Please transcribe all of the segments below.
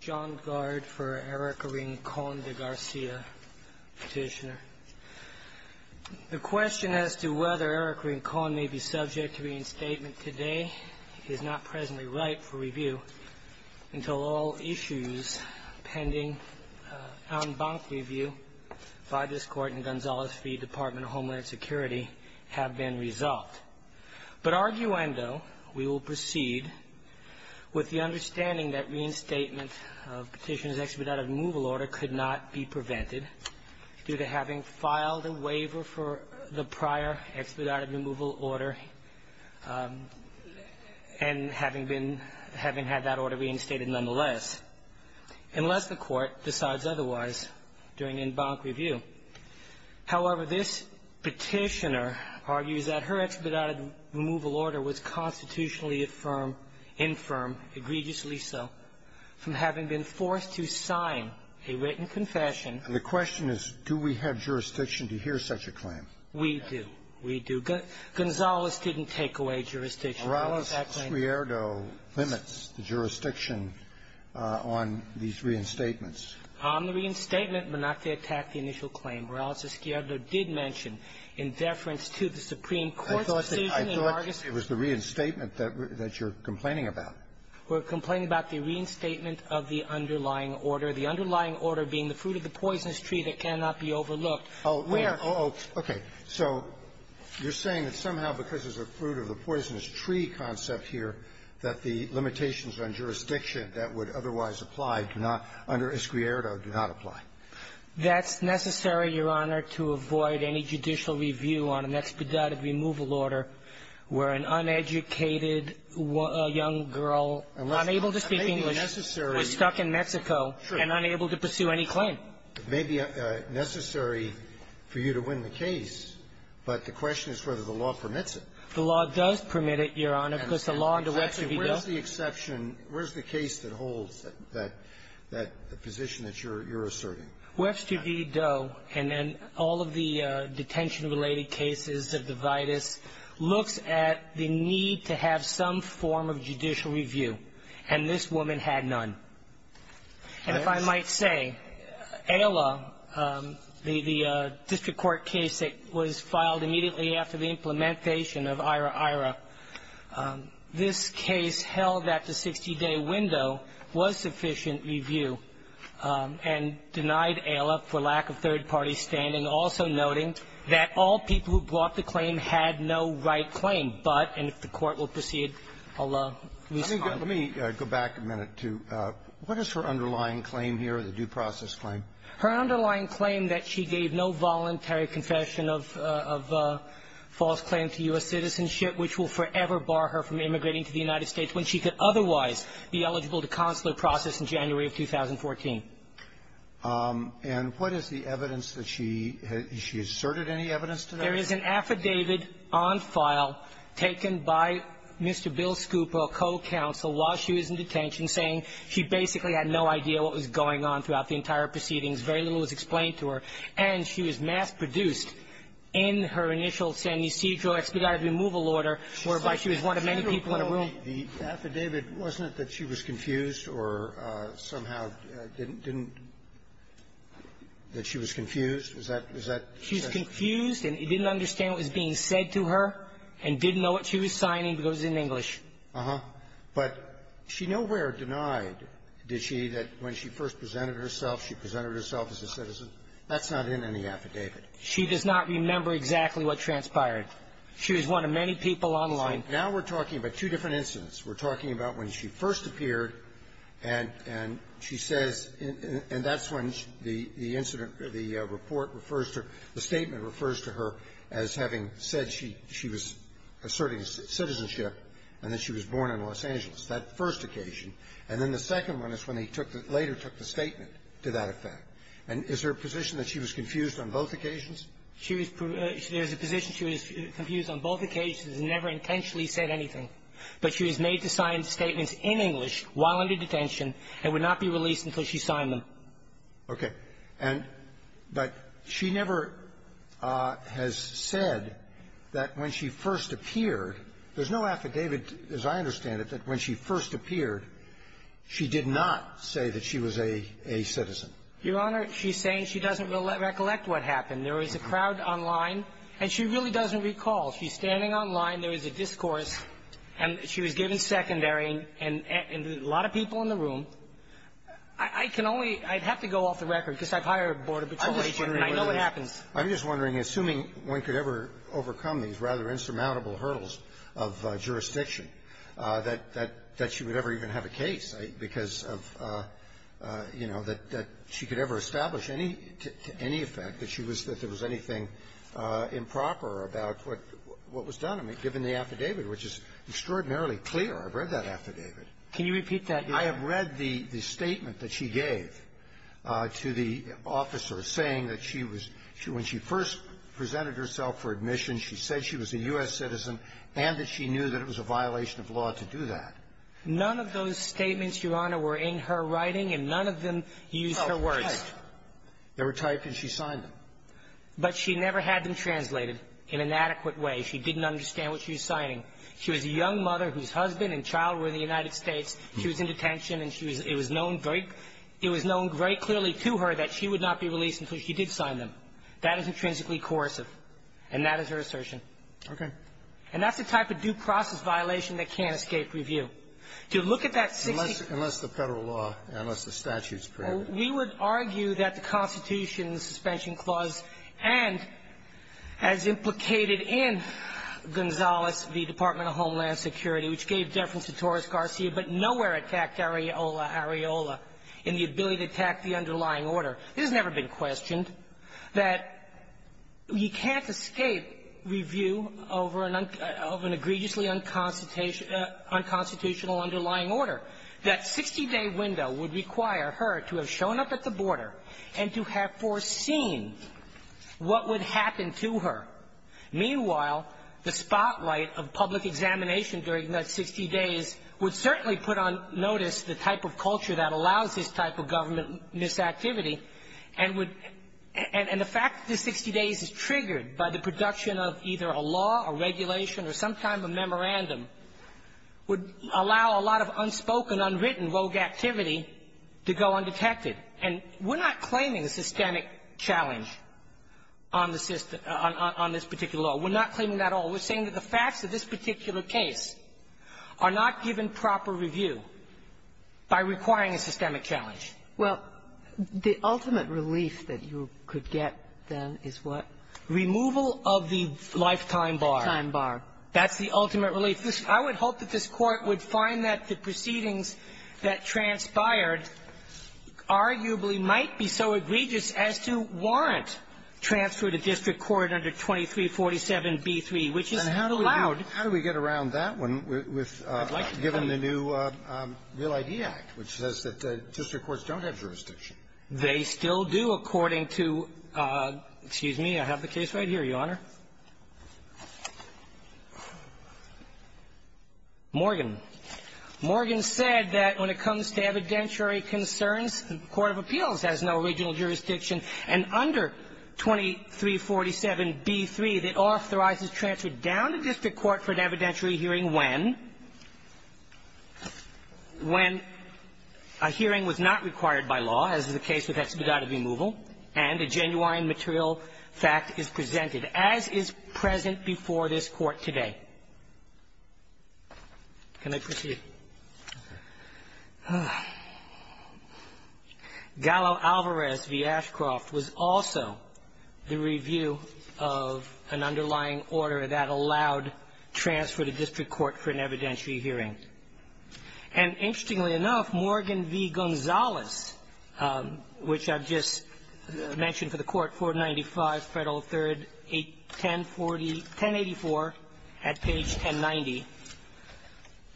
John Gard for Erika Rincon de Garcia, Petitioner. The question as to whether Erika Rincon may be subject to reinstatement today is not presently ripe for review until all issues pending en banc review by this Court in Gonzales v. Department of Homeland Security have been resolved. But, arguendo, we will proceed with the understanding that reinstatement of Petitioner's expedited removal order could not be prevented due to having filed a waiver for the prior expedited removal order and having been, having had that order reinstated nonetheless, unless the Court decides otherwise during en banc review. However, this Petitioner argues that her expedited removal order was constitutionally affirmed, infirm, egregiously so, from having been forced to sign a written confession. And the question is, do we have jurisdiction to hear such a claim? We do. We do. Gonzales didn't take away jurisdiction. Orales-Squierdo limits the jurisdiction on these reinstatements. On the reinstatement, Menachtee attacked the initial claim. Orales-Squierdo did mention, in deference to the Supreme Court's decision in August I thought it was the reinstatement that you're complaining about. We're complaining about the reinstatement of the underlying order. The underlying order being the fruit of the poisonous tree that cannot be overlooked. Oh, where? Oh, okay. So you're saying that somehow because there's a fruit of the poisonous tree concept here, that the limitations on jurisdiction that would otherwise apply do not, under Squierdo, do not apply. That's necessary, Your Honor, to avoid any judicial review on an expedited removal order where an uneducated young girl, unable to speak English, was stuck in Mexico and unable to pursue any claim. It may be necessary for you to win the case, but the question is whether the law permits it. The law does permit it, Your Honor, because the law under Webster v. Doe… Actually, where's the exception? Where's the case that holds that position that you're asserting? Webster v. Doe and then all of the detention-related cases of the vitis looks at the need to have some form of judicial review. And this woman had none. And if I might say, AILA, the district court case that was filed immediately after the implementation of IHRA-IHRA, this case held that the 60-day window was sufficient review and denied AILA for lack of third-party standing, also noting that all people who brought the claim had no right claim, but, and if the Court will proceed, I'll respond. Let me go back a minute to what is her underlying claim here, the due process claim? Her underlying claim that she gave no voluntary confession of false claim to U.S. citizenship, which will forever bar her from immigrating to the United States when she could otherwise be eligible to consular process in January of 2014. And what is the evidence that she has – she asserted any evidence to that? There is an affidavit on file taken by Mr. Bill Scupper, a co-counsel, while she was in detention, saying she basically had no idea what was going on throughout the entire proceedings, very little was explained to her, and she was mass-produced in her initial San Ysidro expedited removal order, whereby she was one of many people in a room. The affidavit, wasn't it that she was confused or somehow didn't – that she was confused? Is that – is that the question? She was confused and didn't understand what was being said to her and didn't know what she was signing because it was in English. Uh-huh. But she nowhere denied, did she, that when she first presented herself, she presented herself as a citizen? That's not in any affidavit. She does not remember exactly what transpired. She was one of many people online. So now we're talking about two different incidents. We're talking about when she first appeared, and – and she says – and that's when the incident – the report refers to her – the statement refers to her as having said she – she was asserting citizenship and that she was born in Los Angeles. That first occasion. And then the second one is when he took the – later took the statement to that effect. And is there a position that she was confused on both occasions? She was – there's a position she was confused on both occasions and never intentionally said anything. But she was made to sign statements in English while under detention and would not be released until she signed them. Okay. And – but she never has said that when she first appeared – there's no affidavit, as I understand it, that when she first appeared, she did not say that she was a – a citizen. Your Honor, she's saying she doesn't recollect what happened. There was a crowd online, and she really doesn't recall. She's standing online. There was a discourse, and she was given secondary, and a lot of people in the room. I can only – I'd have to go off the record, because I've hired a Board of Attorneys for it, and I know it happens. I'm just wondering, assuming one could ever overcome these rather insurmountable hurdles of jurisdiction, that – that she would ever even have a case because of, you know, that she could ever establish any – to any effect that she was – that there was anything improper about what was done. I mean, given the affidavit, which is extraordinarily clear. I've read that affidavit. Can you repeat that? I have read the – the statement that she gave to the officer, saying that she was – when she first presented herself for admission, she said she was a U.S. citizen and that she knew that it was a violation of law to do that. None of those statements, Your Honor, were in her writing, and none of them used her words. Oh, typed. They were typed, and she signed them. But she never had them translated in an adequate way. She didn't understand what she was signing. She was a young mother whose husband and child were in the United States. She was in detention, and she was – it was known very – it was known very clearly to her that she would not be released until she did sign them. That is intrinsically coercive, and that is her assertion. Okay. And that's the type of due process violation that can't escape review. To look at that 60 – Unless – unless the Federal law, unless the statute's prohibitive. We would argue that the Constitution's suspension clause and, as implicated in Gonzales v. Department of Homeland Security, which gave deference to Torres Garcia, but nowhere attacked areola areola in the ability to attack the underlying order. This has never been questioned, that you can't escape review over an – of an egregiously unconstitutional underlying order. That 60-day window would require her to have shown up at the border and to have foreseen what would happen to her. Meanwhile, the spotlight of public examination during that 60 days would certainly put on notice the type of culture that allows this type of government misactivity and would – and the fact that the 60 days is triggered by the production of either a law, a regulation, or some kind of a memorandum would allow a lot of unspoken, unwritten, rogue activity to go undetected. And we're not claiming a systemic challenge on the system – on this particular law. We're not claiming that at all. We're saying that the facts of this particular case are not given proper review by requiring a systemic challenge. Well, the ultimate relief that you could get, then, is what? Removal of the lifetime bar. Lifetime bar. That's the ultimate relief. I would hope that this Court would find that the proceedings that transpired arguably might be so egregious as to warrant transfer to district court under 2347b3, which is allowed. And how do we get around that one with – given the new Real ID Act, which says that district courts don't have jurisdiction? They still do, according to – excuse me. I have the case right here, Your Honor. Morgan. Morgan said that when it comes to evidentiary concerns, the court of appeals has no original jurisdiction, and under 2347b3, it authorizes transfer down to district court for an evidentiary hearing when? When a hearing was not required by law, as is the case with expedited removal, and a genuine material fact is presented, as is present before this Court today. Can I proceed? Gallo Alvarez v. Ashcroft was also the review of an underlying order that allowed transfer to district court for an evidentiary hearing. And interestingly enough, Morgan v. Gonzales, which I've just mentioned for the Court, 495 Federal 3rd, 1084 at page 1090,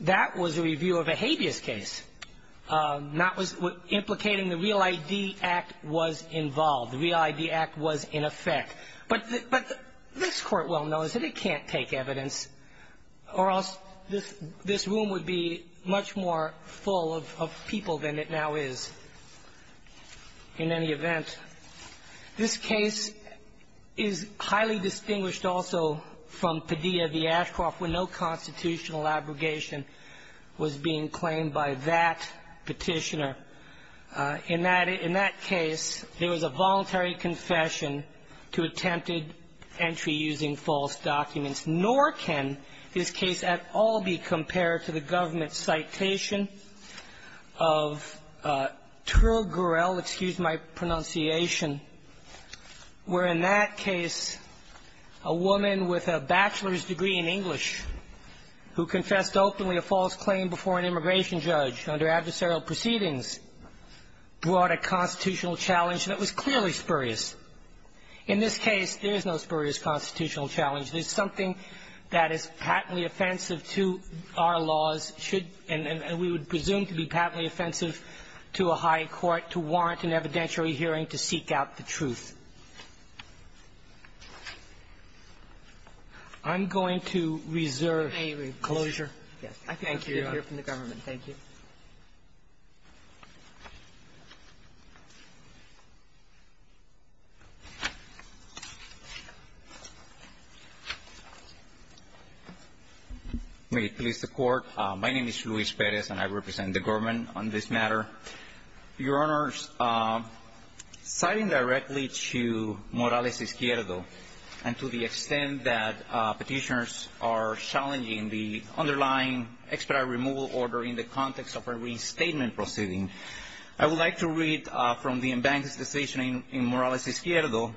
that was a review of a habeas case. That was implicating the Real ID Act was involved. The Real ID Act was in effect. But this Court well knows that it can't take evidence, or else this room would be much more full of people than it now is in any event. This case is highly distinguished also from Padilla v. Ashcroft, where no constitutional abrogation was being claimed by that Petitioner. In that case, there was a voluntary confession to attempted entry using false documents. Nor can this case at all be compared to the government's citation of Turl Gurel where, in that case, a woman with a bachelor's degree in English who confessed openly a false claim before an immigration judge under adversarial proceedings brought a constitutional challenge that was clearly spurious. In this case, there is no spurious constitutional challenge. There's something that is patently offensive to our laws, and we would presume to be patently and evidentially hearing to seek out the truth. I'm going to reserve closure. Thank you. We hear from the government. Thank you. May it please the Court. My name is Luis Perez, and I represent the government on this matter. Your Honors, citing directly to Morales Izquierdo and to the extent that petitioners are challenging the underlying expedite removal order in the context of a restatement proceeding, I would like to read from the embankment's decision in Morales Izquierdo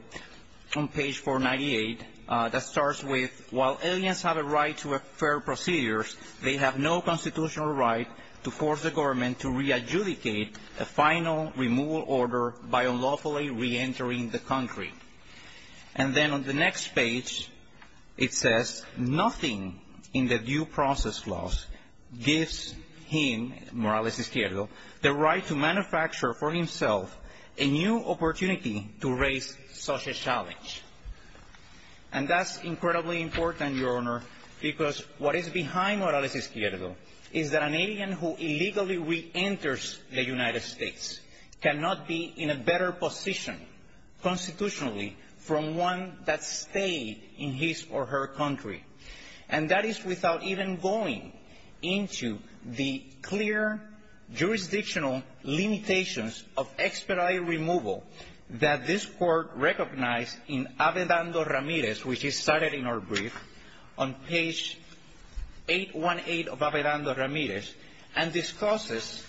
on page 498. That starts with, while aliens have a right to a fair procedure, they have no constitutional right to force the government to re-adjudicate a final removal order by unlawfully re-entering the country. And then on the next page, it says, nothing in the due process clause gives him, Morales Izquierdo, the right to manufacture for himself a new opportunity to raise such a challenge. And that's incredibly important, Your Honor, because what is behind Morales Izquierdo is that an alien who illegally re-enters the United States cannot be in a better position constitutionally from one that stayed in his or her country. And that is without even going into the clear jurisdictional limitations of expedite removal that this Court recognized in Avedando Ramirez, which is cited in our brief, on page 818 of Avedando Ramirez, and discusses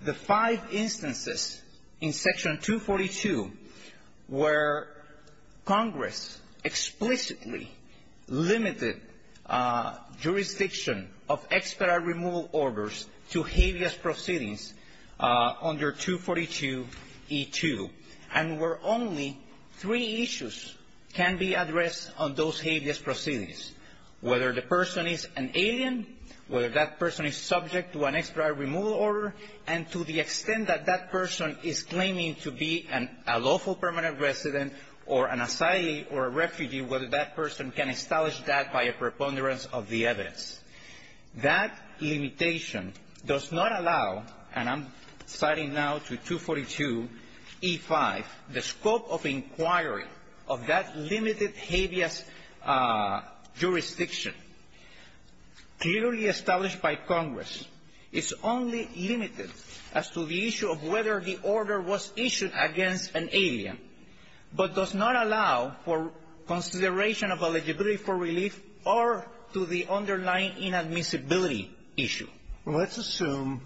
the five instances in Section 242 where Congress explicitly limited jurisdiction of expedite removal orders to habeas proceedings under 242E2, and where only three issues can be addressed on those habeas proceedings, whether the person is an alien, whether that person is subject to an expedite removal order, and to the extent that that person is claiming to be a lawful permanent resident or an asylee or a refugee, whether that person can establish that by a preponderance of the evidence. That limitation does not allow, and I'm citing now to 242E5, the scope of inquiry of that limited habeas jurisdiction. Clearly established by Congress, it's only limited as to the issue of whether the order was issued against an alien, but does not allow for consideration of eligibility for relief or to the underlying inadmissibility issue. Roberts. Well, let's assume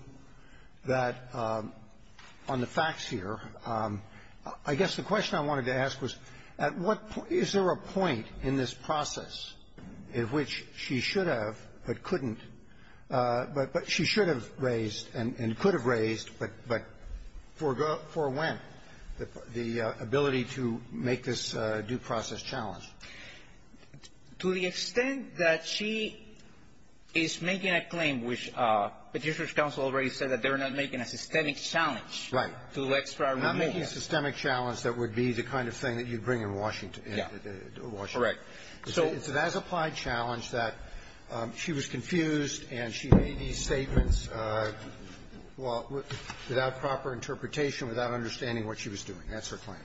that on the facts here, I guess the question I wanted to ask was, at what point – is there a point in this process at which she should have but couldn't – but she should have raised and could have raised, but for when, the ability to make this due process challenge? To the extent that she is making a claim which Petitioner's counsel already said that they're not making a systemic challenge to extra remediation. Right. I'm not making a systemic challenge that would be the kind of thing that you bring in Washington. Yeah. Correct. So it's an as-applied challenge that she was confused and she made these statements without proper interpretation, without understanding what she was doing. That's her claim.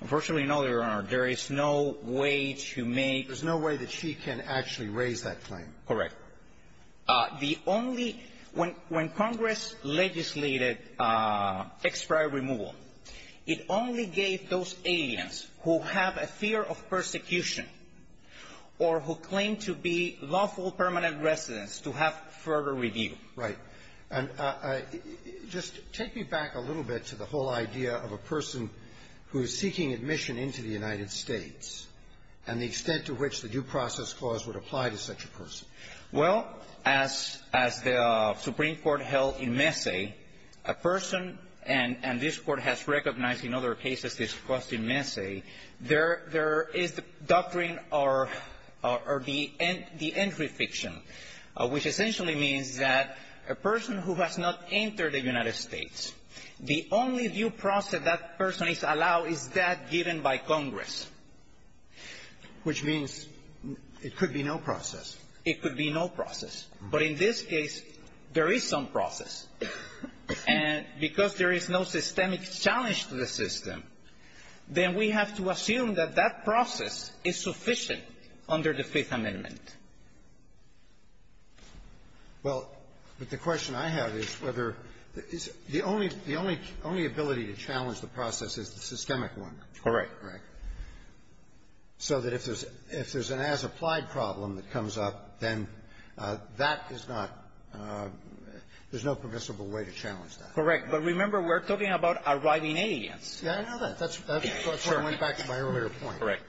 Unfortunately, no, Your Honor. There is no way to make – There's no way that she can actually raise that claim. Correct. The only – when Congress legislated extra removal, it only gave those aliens who have a fear of persecution or who claim to be lawful permanent residents to have further review. Right. And just take me back a little bit to the whole idea of a person who is seeking admission into the United States and the extent to which the due process clause would apply to such a person. Well, as the Supreme Court held in Messe, a person – and this Court has recognized in other cases discussed in Messe, there is the doctrine or the entry fiction, which essentially means that a person who has not entered the United States, the only due process that that person is allowed is that given by Congress. Which means it could be no process. It could be no process. But in this case, there is some process. And because there is no systemic challenge to the system, then we have to assume that that process is sufficient under the Fifth Amendment. Well, but the question I have is whether – the only ability to challenge the process is the systemic one. Correct. Correct. So that if there's an as-applied problem that comes up, then that is not – there's no permissible way to challenge that. Correct. But remember, we're talking about arriving aliens. Yeah, I know that. That's what went back to my earlier point. Correct.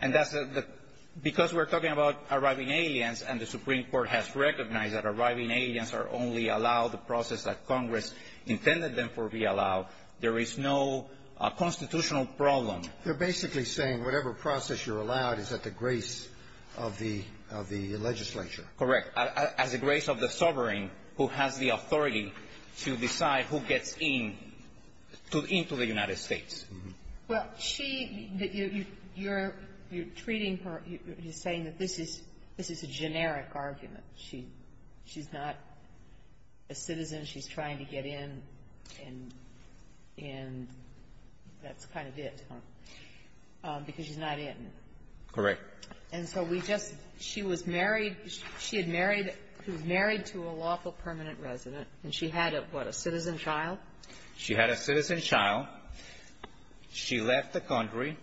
And that's the – because we're talking about arriving aliens, and the Supreme Court has recognized that arriving aliens are only allowed the process that Congress intended them for be allowed, there is no constitutional problem. They're basically saying whatever process you're allowed is at the grace of the legislature. Correct. As a grace of the sovereign who has the authority to decide who gets in to the United States. Well, she – you're treating her – you're saying that this is a generic argument. She's not a citizen. She's trying to get in, and that's kind of it, huh? Because she's not in. Correct. And so we just – she was married – she had married – she was married to a lawful permanent resident, and she had a, what, a citizen child? She had a citizen child. She left the country.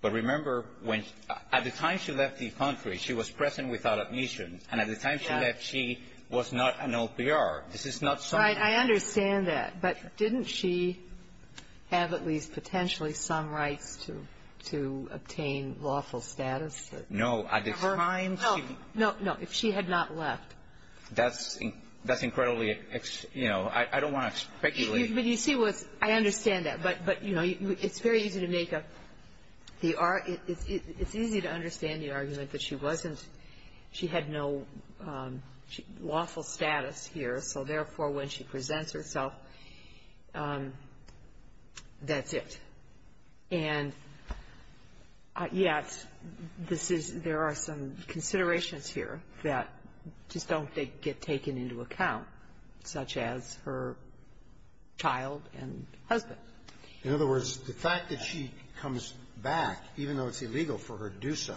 But remember, when – at the time she left the country, she was present without admission. And at the time she left, she was not an OPR. This is not some – Right. I understand that. But didn't she have at least potentially some rights to – to obtain lawful status? No. At the time, she – No. No. No. If she had not left. That's – that's incredibly – you know, I don't want to speculate. But you see what's – I understand that. But, you know, it's very easy to make a – it's easy to understand the argument that she wasn't – she had no lawful status here. So, therefore, when she presents herself, that's it. And yet, this is – there are some considerations here that just don't get taken into account, such as her child and husband. In other words, the fact that she comes back, even though it's illegal for her to do so,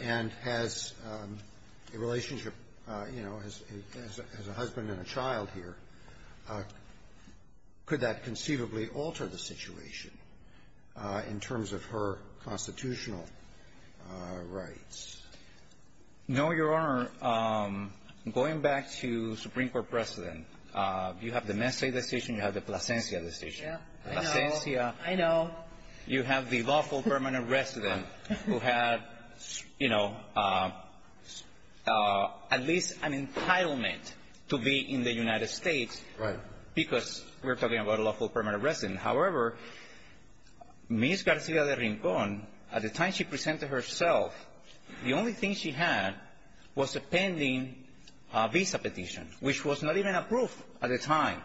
and has a relationship, you know, as a husband and a child here, could that in terms of her constitutional rights? No, Your Honor. Going back to Supreme Court precedent, you have the Messe decision, you have the Plasencia decision. Yeah. I know. Plasencia. I know. You have the lawful permanent resident who had, you know, at least an entitlement to be in the United States. Right. Because we're talking about a lawful permanent resident. However, Ms. Garcia de Rincon, at the time she presented herself, the only thing she had was a pending visa petition, which was not even approved at the time.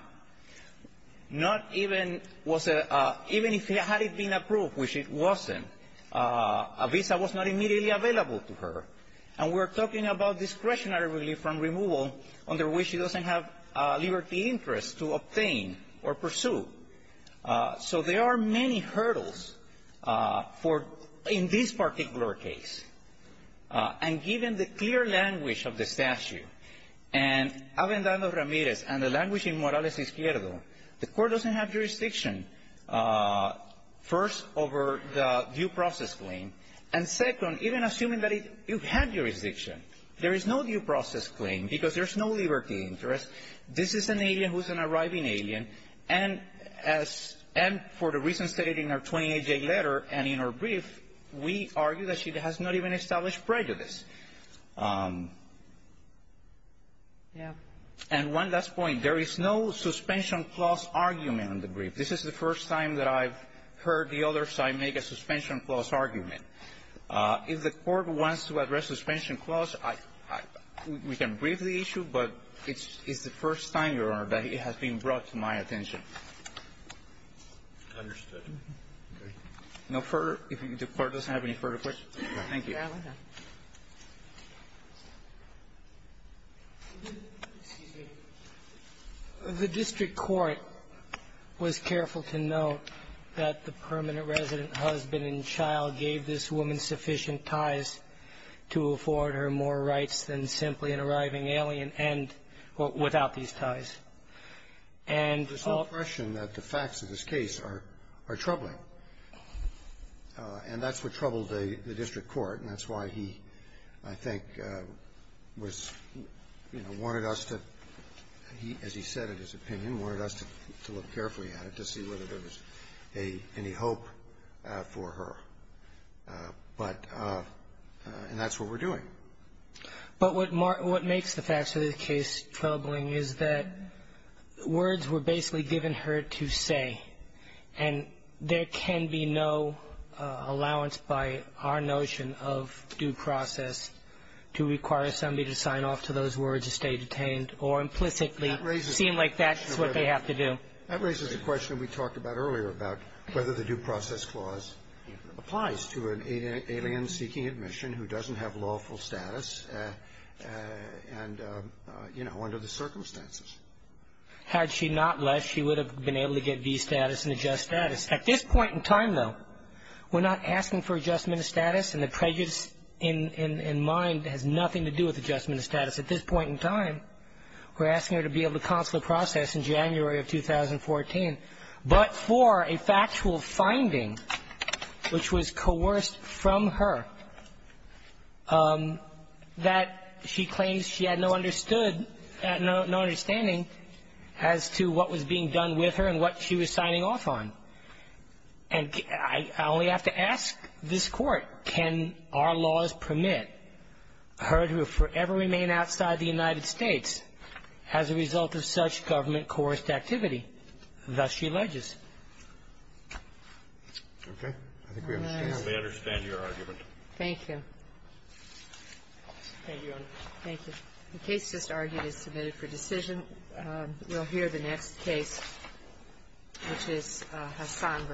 Not even was – even if it had been approved, which it wasn't, a visa was not immediately available to her. And we're talking about discretionary relief from removal, under which she doesn't have liberty interest to obtain or pursue. So there are many hurdles for – in this particular case. And given the clear language of the statute, and Avendando Ramirez and the language in Morales Izquierdo, the court doesn't have jurisdiction, first, over the due process claim, and second, even assuming that you have jurisdiction, there is no due process claim because there's no liberty interest. This is an alien who's an arriving alien. And as – and for the reason stated in our 28-day letter and in our brief, we argue that she has not even established prejudice. And one last point. There is no suspension clause argument in the brief. This is the first time that I've heard the other side make a suspension clause argument. If the court wants to address suspension clause, I – we can brief the issue, but it's the first time, Your Honor, that it has been brought to my attention. Roberts. Understood. Okay. No further? If the Court doesn't have any further questions? Thank you. Excuse me. The district court was careful to note that the permanent resident, husband, and child gave this woman sufficient ties to afford her more rights than simply an arriving alien and – without these ties. And – There's no question that the facts of this case are troubling. And that's what troubled the district court, and that's why he, I think, was – you know, wanted us to – he, as he said in his opinion, wanted us to look carefully at it to see whether there was a – any hope for her. But – and that's what we're doing. But what makes the facts of this case troubling is that words were basically given her to say, and there can be no allowance by our notion of due process to require somebody to sign off to those words to stay detained or implicitly seem like that's what they have to do. That raises a question we talked about earlier about whether the due process clause applies to an alien seeking admission who doesn't have lawful status and – you know, under the circumstances. Had she not left, she would have been able to get V status and adjust status. At this point in time, though, we're not asking for adjustment of status, and the prejudice in mind has nothing to do with adjustment of status. At this point in time, we're asking her to be able to consular process in January of 2014, but for a factual finding which was coerced from her that she claims she had no understood – no understanding as to what was being done with her and what she was signing off on. And I only have to ask this Court, can our laws permit her to forever remain outside the United States as a result of such government-coerced activity? Thus she alleges. Okay. I think we understand your argument. Thank you. Thank you, Your Honor. Thank you. The case just argued is submitted for decision. We'll hear the next case, which is Hassan v. Shurta.